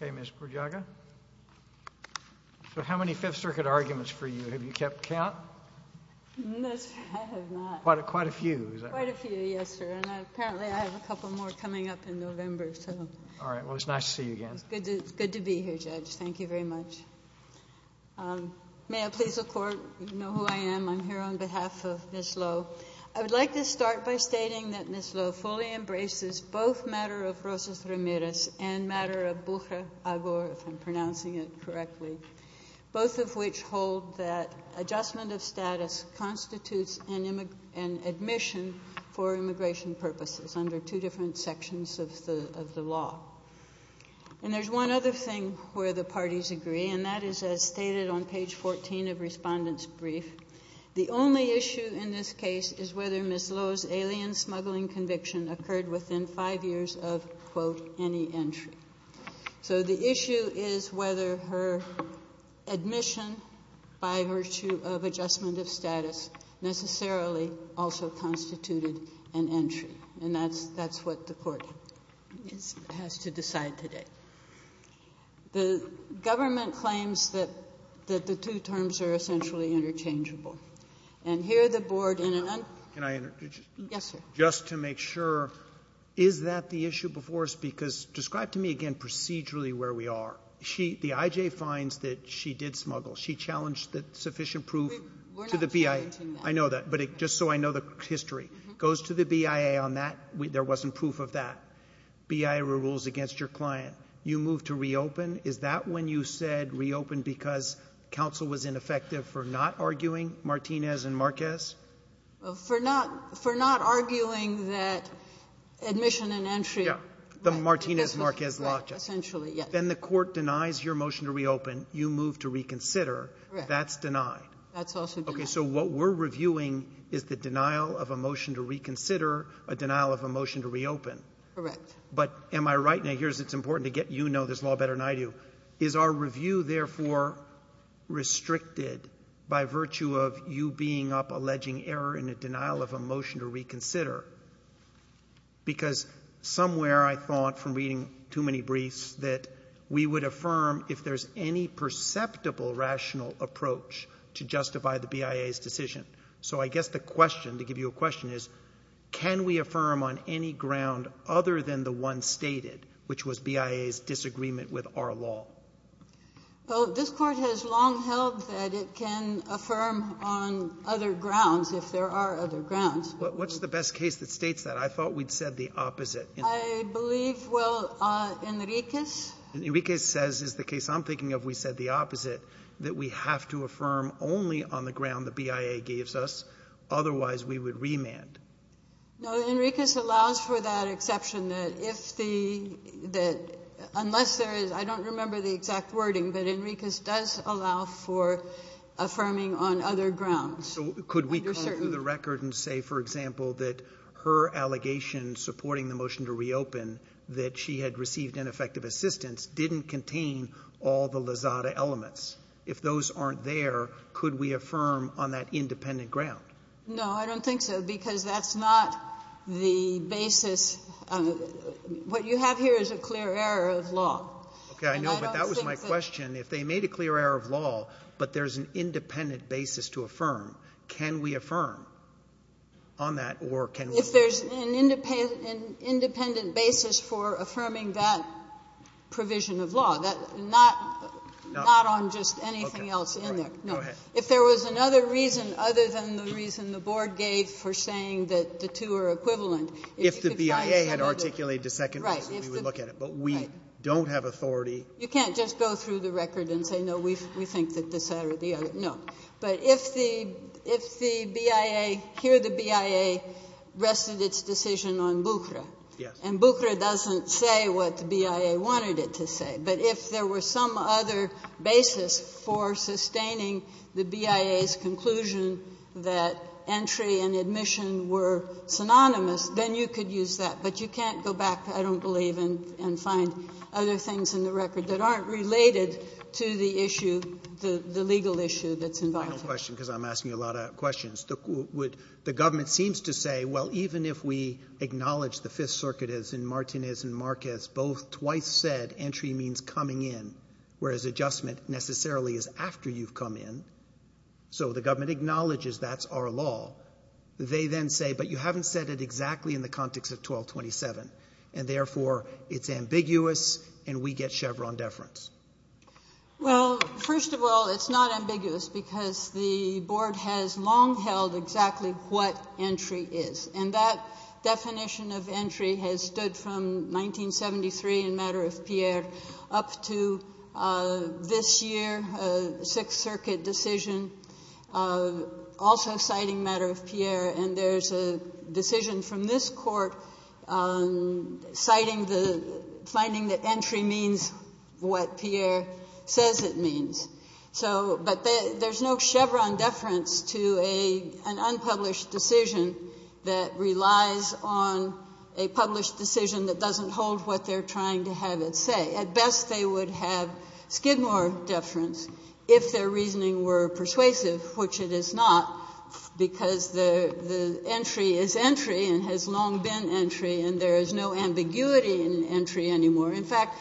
Mr. Bordiaga, how many Fifth Circuit arguments have you kept count? Quite a few. Apparently I have a couple more coming up in November. It's good to be here, Judge. Thank you very much. May I please have the floor? You know who I am. I'm here on behalf of Ms. Lowe. I would like to start by stating that Ms. Lowe fully embraces both matter of Rosas Ramirez and matter of Bucha Agor, if I'm pronouncing it correctly, both of which hold that adjustment of status constitutes an admission for immigration purposes under two different sections of the law. And there's one other thing where the parties agree, and that is as stated on page 14 of Respondent's Brief. The only issue in this case is whether Ms. Lowe's alien smuggling conviction occurred within 5 years of, quote, any entry. So the issue is whether her admission by virtue of adjustment of status necessarily also constituted an entry. And that's what the Court has to decide today. The government claims that the two terms are essentially interchangeable. And here the Board in an un- Can I interrupt? Yes, sir. Just to make sure, is that the issue before us? Because describe to me again procedurally where we are. She — the I.J. finds that she did smuggle. She challenged the sufficient proof to the BIA. We're not challenging that. I know that. But just so I know the history, goes to the BIA on that. There wasn't proof of that. BIA rules against your client. You move to reopen. Is that when you said reopen because counsel was ineffective for not arguing Martinez and Marquez? For not — for not arguing that admission and entry — Yeah. The Martinez-Marquez lockjob. Essentially, yes. Then the Court denies your motion to reopen. You move to reconsider. Correct. That's denied. That's also denied. Okay. So what we're reviewing is the denial of a motion to reconsider, a denial of a motion to reopen. Correct. But am I right? Now, here's — it's important to get you know this law better than I do. Is our review therefore restricted by virtue of you being up alleging error in a denial of a motion to reconsider? Because somewhere I thought from reading too many briefs that we would affirm if there's any perceptible rational approach to justify the BIA's decision. So I guess the question, to give you a question, is can we affirm on any ground other than the one stated, which was BIA's disagreement with our law? Well, this Court has long held that it can affirm on other grounds if there are other grounds. But what's the best case that states that? I thought we'd said the opposite. I believe, well, Enriquez — Enriquez says is the case I'm thinking of we said the opposite, that we have to affirm only on the ground the BIA gives us, otherwise we would remand. No, Enriquez allows for that exception, that if the — that unless there is — I don't remember the exact wording, but Enriquez does allow for affirming on other grounds. Could we go through the record and say, for example, that her allegation supporting the motion to reopen, that she had received ineffective assistance, didn't contain all the Lizada elements? If those aren't there, could we affirm on that independent ground? No, I don't think so, because that's not the basis. What you have here is a clear error of law. Okay. I know, but that was my question. If they made a clear error of law, but there's an independent basis to affirm, can we affirm on that, or can we not? If there's an independent basis for affirming that provision of law, that — not on just anything else in there. Okay. Right. Go ahead. No. If there was another reason other than the reason the Board gave for saying that the two are equivalent, if you could find another — If the BIA had articulated a second reason, we would look at it. Right. But we don't have authority — You can't just go through the record and say, no, we think that this, that or the other. No. But if the — if the BIA — here the BIA rested its decision on Bucra. Yes. And Bucra doesn't say what the BIA wanted it to say. But if there were some other basis for sustaining the BIA's conclusion that entry and admission were synonymous, then you could use that. But you can't go back, I don't believe, and find other things in the record that aren't related to the issue, the legal issue that's involved. Final question, because I'm asking a lot of questions. The government seems to say, well, even if we acknowledge the Fifth Circuit, as in Martinez and Marquez, both twice said entry means coming in, whereas adjustment necessarily is after you've come in. So the government acknowledges that's our law. They then say, but you haven't said it exactly in the context of 1227. And therefore, it's ambiguous and we get Chevron deference. Well, first of all, it's not ambiguous because the board has long held exactly what entry is. And that definition of entry has stood from 1973 in matter of Pierre up to this year, Sixth Circuit decision, also citing matter of Pierre. And there's a decision from this court citing the finding that entry means what Pierre says it means. So, but there's no Chevron deference to an unpublished decision that relies on a published decision that doesn't hold what they're trying to have it say. At best, they would have Skidmore deference if their reasoning were persuasive, which it is not, because the entry is entry and has long been entry and there is no ambiguity in entry anymore. In fact,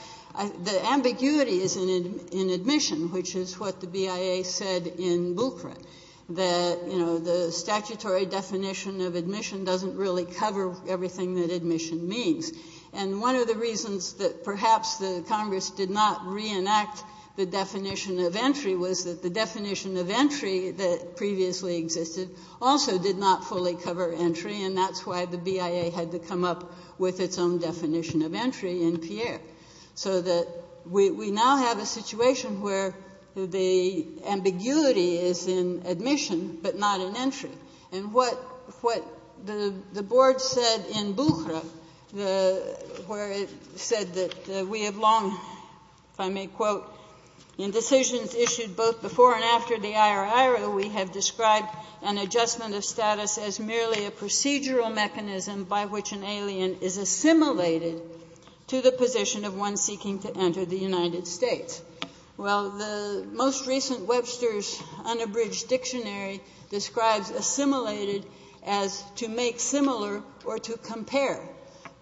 the ambiguity is in admission, which is what the BIA said in Bucrat, that, you know, the statutory definition of admission doesn't really cover everything that admission means. And one of the reasons that perhaps the Congress did not reenact the definition of entry was that the definition of entry that previously existed also did not fully cover entry. And that's why the BIA had to come up with its own definition of entry in Pierre. So that we now have a situation where the ambiguity is in admission, but not in entry. And what the Board said in Bucrat, where it said that we have long, if I may quote, Well, the most recent Webster's unabridged dictionary describes assimilated as to make similar or to compare,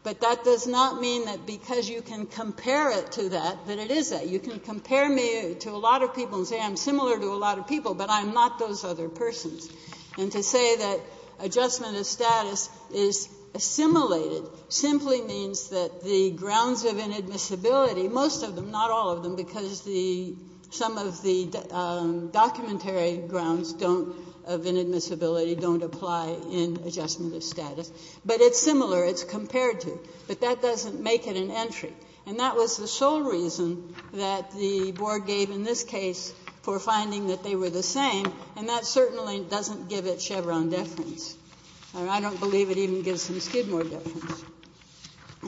but that does not mean that because you can compare it to that, that it isn't. You can compare me to a lot of people and say I'm similar to a lot of people, but I'm not those other persons. And to say that adjustment of status is assimilated simply means that the grounds of inadmissibility, most of them, not all of them, because the some of the documentary grounds don't, of inadmissibility, don't apply in adjustment of status. But it's similar, it's compared to. But that doesn't make it an entry. And that was the sole reason that the Board gave in this case for finding that they were the same, and that certainly doesn't give it Chevron deference. I don't believe it even gives them Skidmore deference.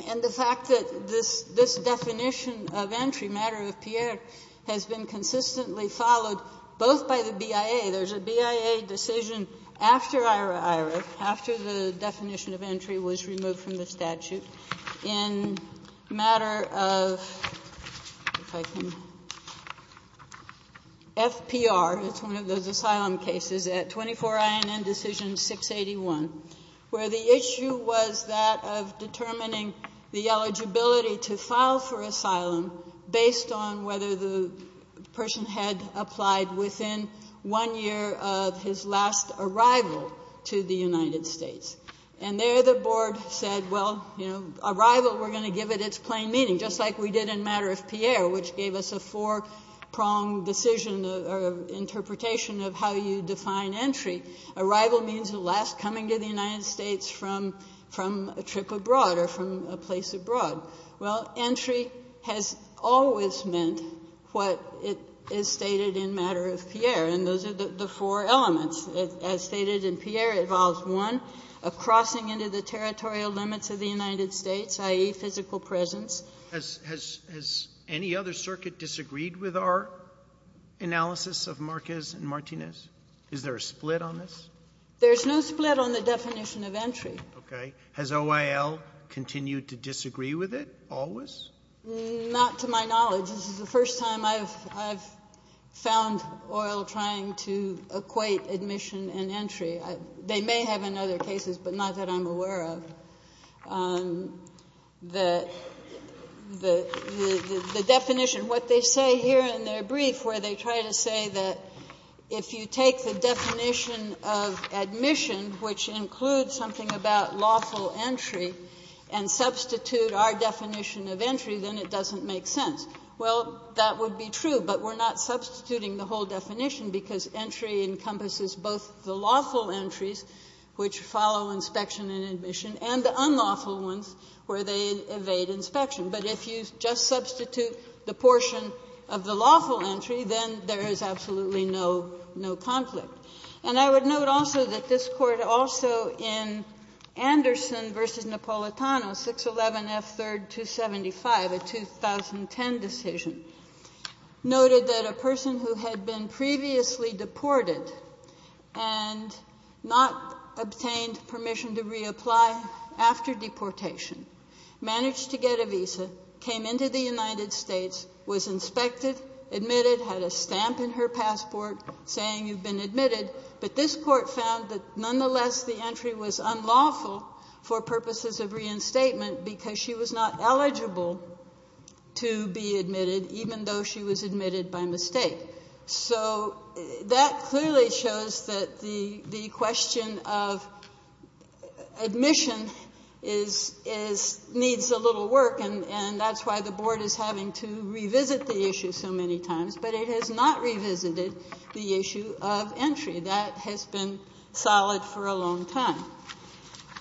And the fact that this definition of entry, matter of Pierre, has been consistently followed both by the BIA. There's a BIA decision after Ira-Ira, after the definition of entry was removed from the statute, in matter of, if I can, FPR, it's one of those asylum cases, at 24 INN Decision 681, where the issue was that of determining the eligibility to file for asylum based on whether the person had applied within one year of his last arrival to the United States. And there the Board said, well, you know, arrival, we're going to give it its plain meaning, just like we did in matter of Pierre, which gave us a four-pronged decision or interpretation of how you define entry. Arrival means the last coming to the United States from a trip abroad or from a place abroad. Well, entry has always meant what it is stated in matter of Pierre. And those are the four elements. As stated in Pierre, it involves one, a crossing into the territorial limits of the United States, i.e., physical presence. Sotomayor, has any other circuit disagreed with our analysis of Marquez and Martinez? Is there a split on this? There's no split on the definition of entry. Okay. Has OIL continued to disagree with it always? Not to my knowledge. This is the first time I've found OIL trying to equate admission and entry. They may have in other cases, but not that I'm aware of, the definition. What they say here in their brief, where they try to say that if you take the definition of admission, which includes something about lawful entry, and substitute our definition of entry, then it doesn't make sense. Well, that would be true, but we're not substituting the whole definition, because entry encompasses both the lawful entries, which follow inspection and admission, and the unlawful ones, where they evade inspection. But if you just substitute the portion of the lawful entry, then there is absolutely no conflict. And I would note also that this Court also in Anderson v. Napolitano, 611 F. 3rd 275, a 2010 decision, noted that a person who had been previously deported and not obtained permission to reapply after deportation, managed to get a visa, came into the United States, was inspected, admitted, had a stamp in her passport saying you've been admitted, but this Court found that nonetheless the entry was unlawful for purposes of reinstatement, because she was not eligible to be admitted, even though she was admitted by mistake. So that clearly shows that the question of admission needs a little work, and that's why the Board is having to revisit the issue so many times. But it has not revisited the issue of entry. That has been solid for a long time.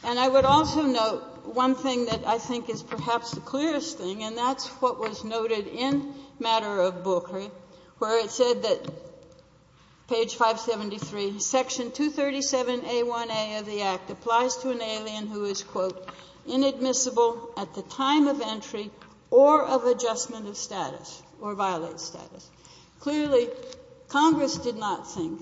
And I would also note one thing that I think is perhaps the clearest thing, and that's what was noted in Matter of Bulkery, where it said that page 573, Section 237a1a of the Act applies to an alien who is, quote, inadmissible at the time of entry or of adjustment of status or violated status. Clearly, Congress did not think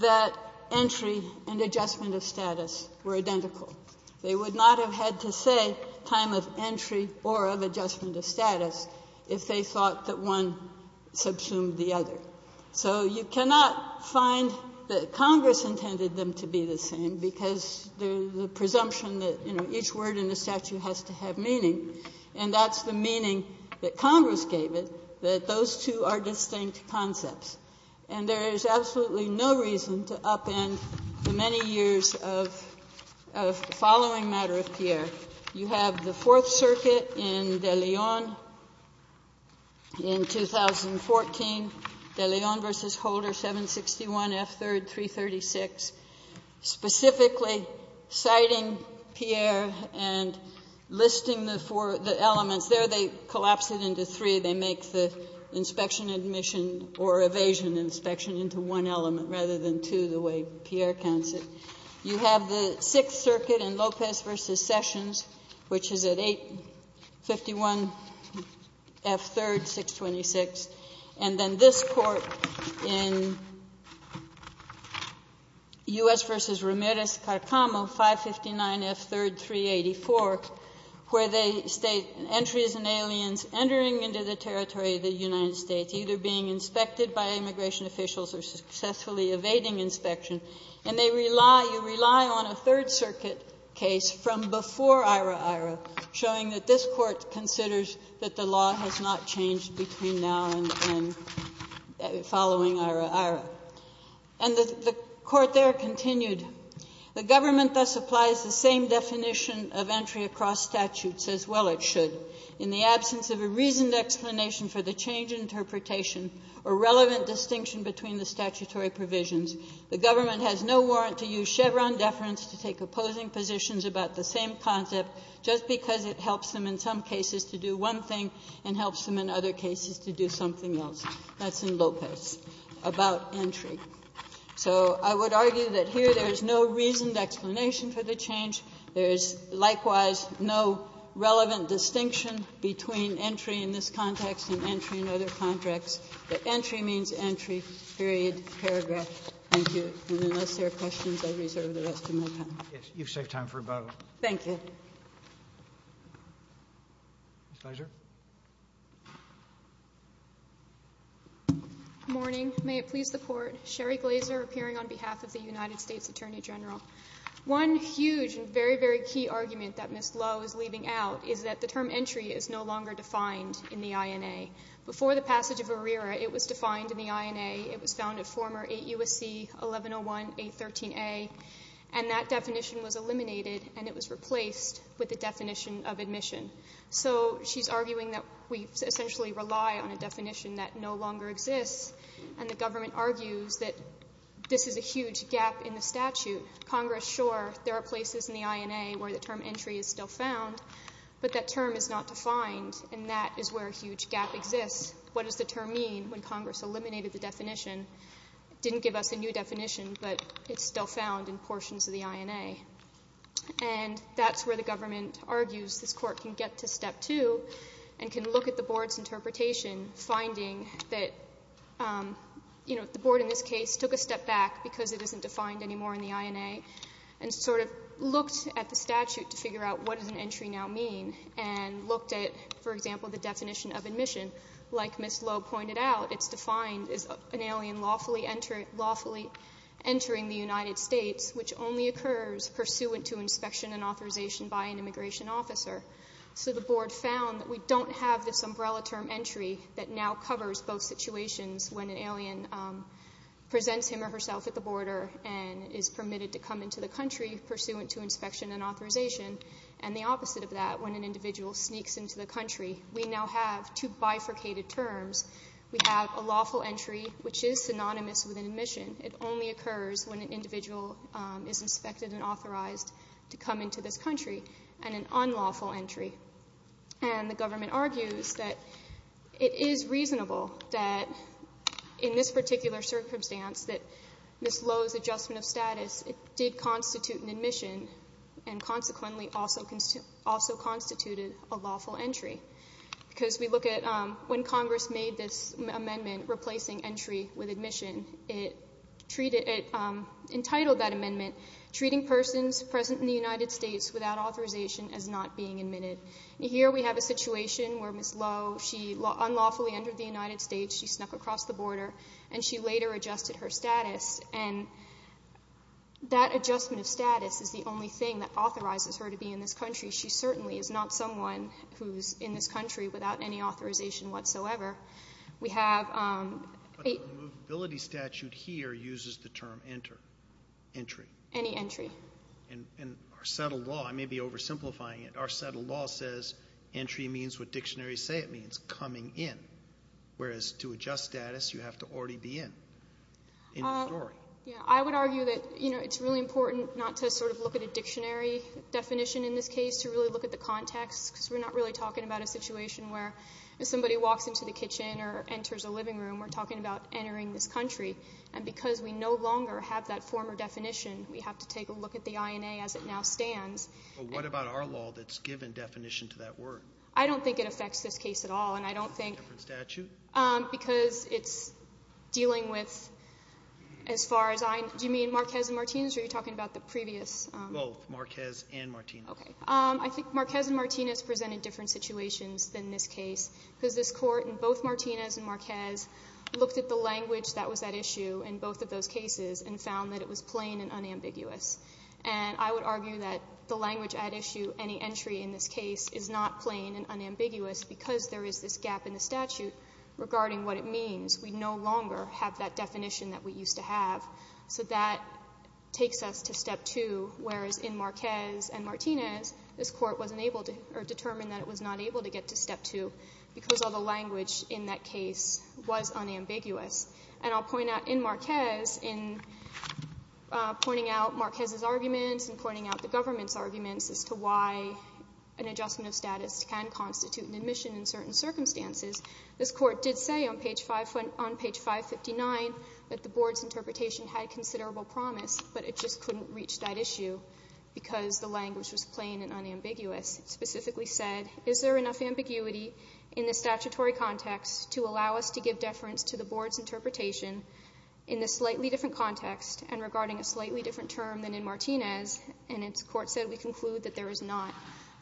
that entry and adjustment of status were identical. They would not have had to say time of entry or of adjustment of status if they thought that one subsumed the other. So you cannot find that Congress intended them to be the same, because there's a presumption that, you know, each word in the statute has to have meaning, and that's the meaning that Congress gave it, that those two are distinct concepts. And there is absolutely no reason to upend the many years of following Matter of Pierre. You have the Fourth Circuit in De Leon in 2014, De Leon v. Holder, 761 F. 3rd, 336, specifically citing Pierre and listing the four of the elements. There they collapse it into three. They make the inspection admission or evasion inspection into one element rather than two, the way Pierre counts it. You have the Sixth Circuit in Lopez v. Sessions, which is at 851 F. 3rd, 626. And then this Court in U.S. v. Ramirez-Carcamo, 559 F. 3rd, 384, where they state entries and aliens entering into the territory of the United States, either being inspected by immigration officials or successfully evading inspection, and they rely you rely on a Third Circuit case from before IHRA-IHRA showing that this Court considers that the law has not changed between now and following IHRA-IHRA. And the Court there continued, The government thus applies the same definition of entry across statutes as well it should. In the absence of a reasoned explanation for the change in interpretation or relevant distinction between the statutory provisions, the government has no warrant to use Chevron deference to take opposing positions about the same concept just because it helps them in some cases to do one thing and helps them in other cases to do something else. That's in Lopez about entry. So I would argue that here there is no reasoned explanation for the change. There is likewise no relevant distinction between entry in this context and entry in other contexts. Entry means entry, period, paragraph. Thank you. And unless there are questions, I reserve the rest of my time. Roberts. You've saved time for about a minute. Thank you. Ms. Leiser. Good morning. May it please the Court. Sherry Leiser, appearing on behalf of the United States Attorney General. One huge and very, very key argument that Ms. Lowe is leaving out is that the term entry is no longer defined in the INA. Before the passage of IHRA, it was defined in the INA. It was found in former 8 U.S.C. 1101, 813a, and that definition was eliminated and it was replaced with the definition of admission. So she's arguing that we essentially rely on a definition that no longer exists and the government argues that this is a huge gap in the statute. Congress, sure, there are places in the INA where the term entry is still found, but that term is not defined and that is where a huge gap exists. What does the term mean when Congress eliminated the definition? Didn't give us a new definition, but it's still found in portions of the INA. And that's where the government argues this Court can get to step two and can look at the Board's interpretation, finding that, you know, the Board in this case took a step back because it isn't defined anymore in the INA and sort of looked at the statute to figure out what does an entry now mean and looked at, for example, the definition of admission. Like Ms. Lowe pointed out, it's defined as an alien lawfully entering the United States, which only occurs pursuant to inspection and authorization by an immigration officer. So the Board found that we don't have this umbrella term entry that now covers both situations when an alien presents him or herself at the border and is permitted to come into the country pursuant to inspection and authorization and the opposite of that when an individual sneaks into the country. We now have two bifurcated terms. We have a lawful entry, which is synonymous with an admission. It only occurs when an individual is inspected and authorized to come into this country and an unlawful entry, and the government argues that it is reasonable that in this particular circumstance that Ms. Lowe's adjustment of status, it did constitute an admission and consequently also constituted a lawful entry because we look at when Congress made this amendment replacing entry with admission, it entitled that amendment treating persons present in the United States without authorization as not being admitted. Here we have a situation where Ms. Lowe, she unlawfully entered the United States, she snuck across the border, and she later adjusted her status, and that adjustment of status is the only thing that authorizes her to be in this country. She certainly is not someone who's in this country without any authorization whatsoever. We have a — Entry. Any entry. And our settled law, I may be oversimplifying it, our settled law says entry means what dictionaries say it means, coming in, whereas to adjust status, you have to already be in, in the story. Yeah, I would argue that, you know, it's really important not to sort of look at a dictionary definition in this case, to really look at the context because we're not really talking about a situation where if somebody walks into the kitchen or enters a living room, we're talking about entering this country, and because we no longer have that former definition, we have to take a look at the INA as it now stands. Well, what about our law that's given definition to that word? I don't think it affects this case at all, and I don't think — Different statute? Because it's dealing with, as far as I — do you mean Marquez and Martinez, or are you talking about the previous — Both, Marquez and Martinez. Okay. I think Marquez and Martinez presented different situations than this case because this Court, in both Martinez and Marquez, looked at the language that was at issue in both of those cases and found that it was plain and unambiguous. And I would argue that the language at issue, any entry in this case, is not plain and unambiguous because there is this gap in the statute regarding what it means. We no longer have that definition that we used to have. So that takes us to Step 2, whereas in Marquez and Martinez, this Court wasn't able to — or determined that it was not able to get to Step 2 because all the language in that case was unambiguous. And I'll point out, in Marquez, in pointing out Marquez's arguments and pointing out the government's arguments as to why an adjustment of status can constitute an admission in certain circumstances, this Court did say on page 559 that the board's interpretation had considerable promise, but it just couldn't reach that issue because the language was plain and unambiguous. It specifically said, is there enough ambiguity in the statutory context to allow us to give deference to the board's interpretation in this slightly different context and regarding a slightly different term than in Martinez? And the Court said, we conclude that there is not.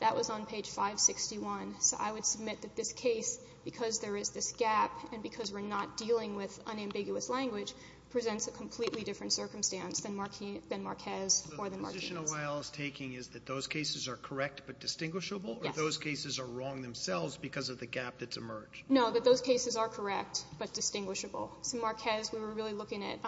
That was on page 561. So I would submit that this case, because there is this gap and because we're not dealing with unambiguous language, presents a completely different circumstance than Marquez or than Martinez. The position O'Neill is taking is that those cases are correct but distinguishable? Yes. Or those cases are wrong themselves because of the gap that's emerged? No, that those cases are correct but distinguishable. So, Marquez, we were really looking at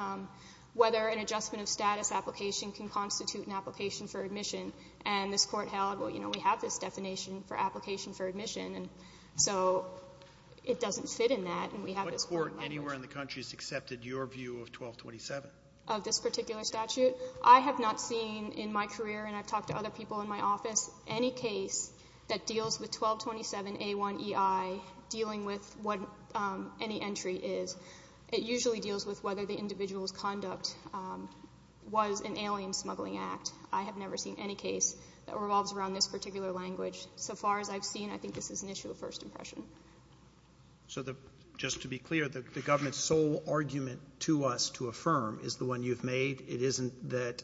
whether an adjustment of status application can constitute an application for admission. And this Court held, well, you know, we have this definition for application for admission, and so it doesn't fit in that. And we have this court violation. What court anywhere in the country has accepted your view of 1227? Of this particular statute? I have not seen in my career, and I've talked to other people in my office, any case that deals with 1227A1EI dealing with what any entry is. It usually deals with whether the individual's conduct was an alien smuggling act. I have never seen any case that revolves around this particular language. So far as I've seen, I think this is an issue of first impression. So just to be clear, the government's sole argument to us to affirm is the one you've made. It isn't that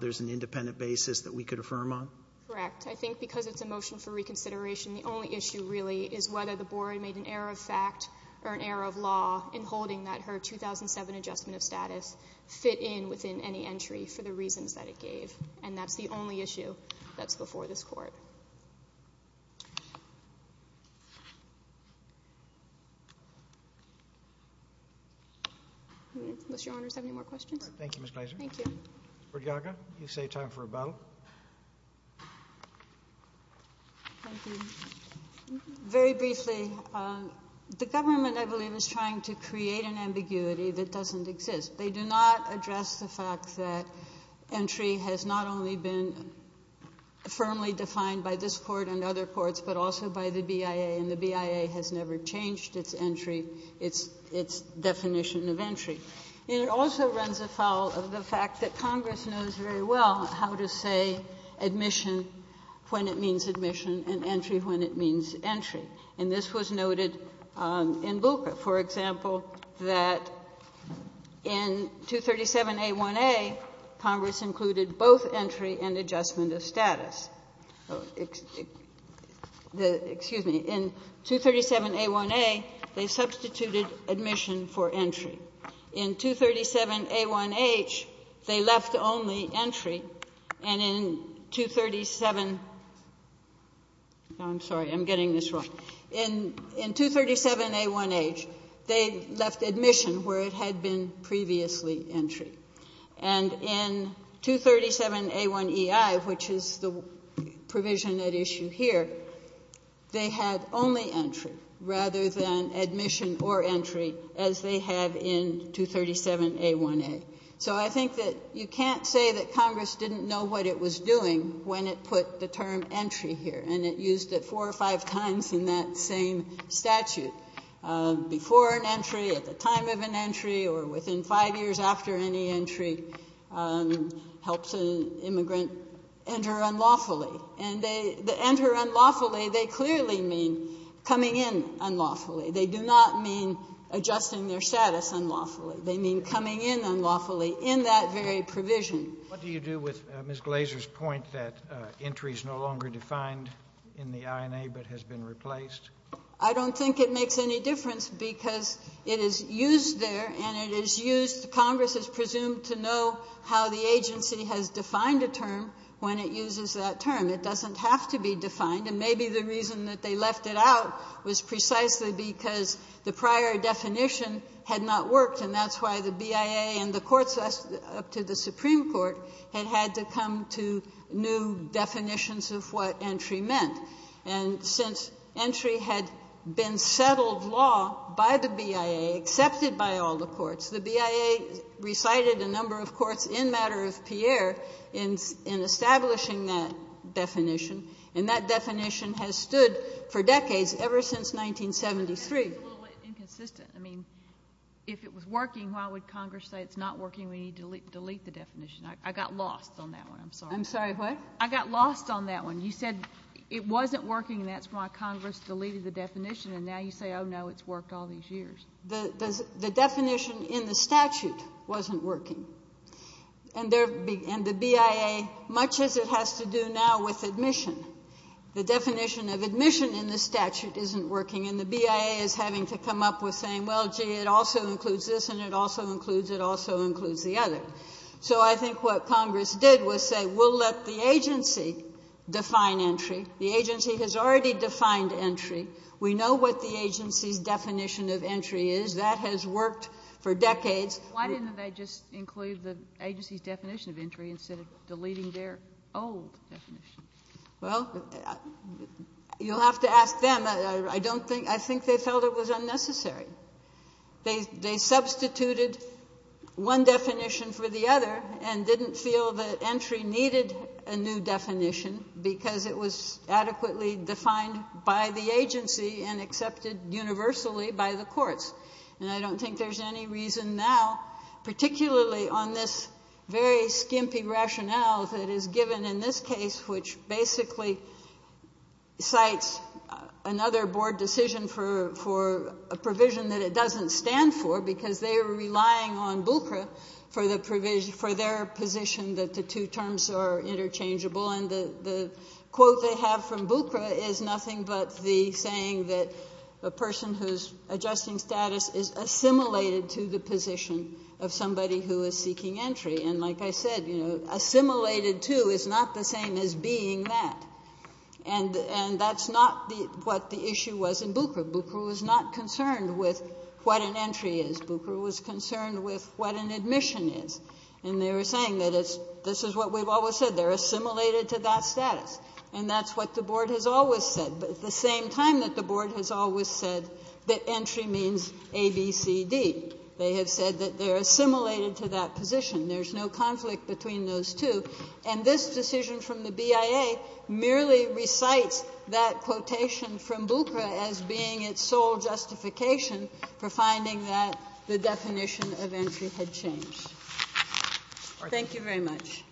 there's an independent basis that we could affirm on? Correct. I think because it's a motion for reconsideration, the only issue really is whether the board made an error of fact or an error of law in holding that her 2007 adjustment of status fit in within any entry for the reasons that it gave. And that's the only issue that's before this Court. Unless your honors have any more questions? Thank you, Ms. Gleiser. Thank you. Ms. Burdiaga, you say time for a bow. Thank you. Very briefly, the government, I believe, is trying to create an ambiguity that doesn't exist. They do not address the fact that entry has not only been firmly defined by this Court and other courts, but also by the BIA. And the BIA has never changed its entry, its definition of entry. And it also runs afoul of the fact that Congress knows very well how to say admission when it means admission and entry when it means entry. And this was noted in Bucha, for example, that in 237A1A, Congress included both entry and adjustment of status. Excuse me. In 237A1A, they substituted admission for entry. In 237A1H, they left only entry. And in 237 — no, I'm sorry. I'm getting this wrong. In 237A1H, they left admission where it had been previously entry. And in 237A1EI, which is the provision at issue here, they had only entry rather than admission or entry, as they have in 237A1A. So I think that you can't say that Congress didn't know what it was doing when it put the term entry here. And it used it four or five times in that same statute. Before an entry, at the time of an entry, or within five years after any entry, helps an immigrant enter unlawfully. And they — to enter unlawfully, they clearly mean coming in unlawfully. They do not mean adjusting their status unlawfully. They mean coming in unlawfully in that very provision. What do you do with Ms. Glaser's point that entry is no longer defined in the INA but has been replaced? I don't think it makes any difference because it is used there, and it is used — Congress is presumed to know how the agency has defined a term when it uses that term. It doesn't have to be defined. And maybe the reason that they left it out was precisely because the prior definition had not worked, and that's why the BIA and the courts up to the Supreme Court had had to come to new definitions of what entry meant. And since entry had been settled law by the BIA, accepted by all the courts, the BIA recited a number of courts in Matter of Pierre in establishing that definition, and that definition has stood for decades, ever since 1973. It's a little inconsistent. I mean, if it was working, why would Congress say it's not working, we need to delete the definition? I got lost on that one. I'm sorry. I'm sorry, what? I got lost on that one. You said it wasn't working, and that's why Congress deleted the definition, and now you say, oh, no, it's worked all these years. The definition in the statute wasn't working. And the BIA, much as it has to do now with admission, the definition of admission in the statute isn't working, and the BIA is having to come up with saying, well, gee, it also includes this, and it also includes the other. So I think what Congress did was say, we'll let the agency define entry. The agency has already defined entry. We know what the agency's definition of entry is. That has worked for decades. Why didn't they just include the agency's definition of entry instead of deleting their old definition? Well, you'll have to ask them. I don't think they felt it was unnecessary. They substituted one definition for the other and didn't feel that entry needed a new definition because it was adequately defined by the agency and accepted universally by the courts. And I don't think there's any reason now, particularly on this very skimpy rationale that is given in this case, which basically cites another board decision for a provision that it doesn't stand for because they are relying on BUCRA for their position that the two terms are interchangeable. And the quote they have from BUCRA is nothing but the saying that a person whose adjusting status is assimilated to the position of somebody who is seeking entry. And like I said, you know, assimilated to is not the same as being that. And that's not what the issue was in BUCRA. BUCRA was not concerned with what an entry is. BUCRA was concerned with what an admission is. And they were saying that this is what we've always said. They're assimilated to that status. And that's what the board has always said. The same time that the board has always said that entry means A, B, C, D. They have said that they're assimilated to that position. There's no conflict between those two. And this decision from the BIA merely recites that quotation from BUCRA as being its sole justification for finding that the definition of entry had changed. Thank you very much. Roberts.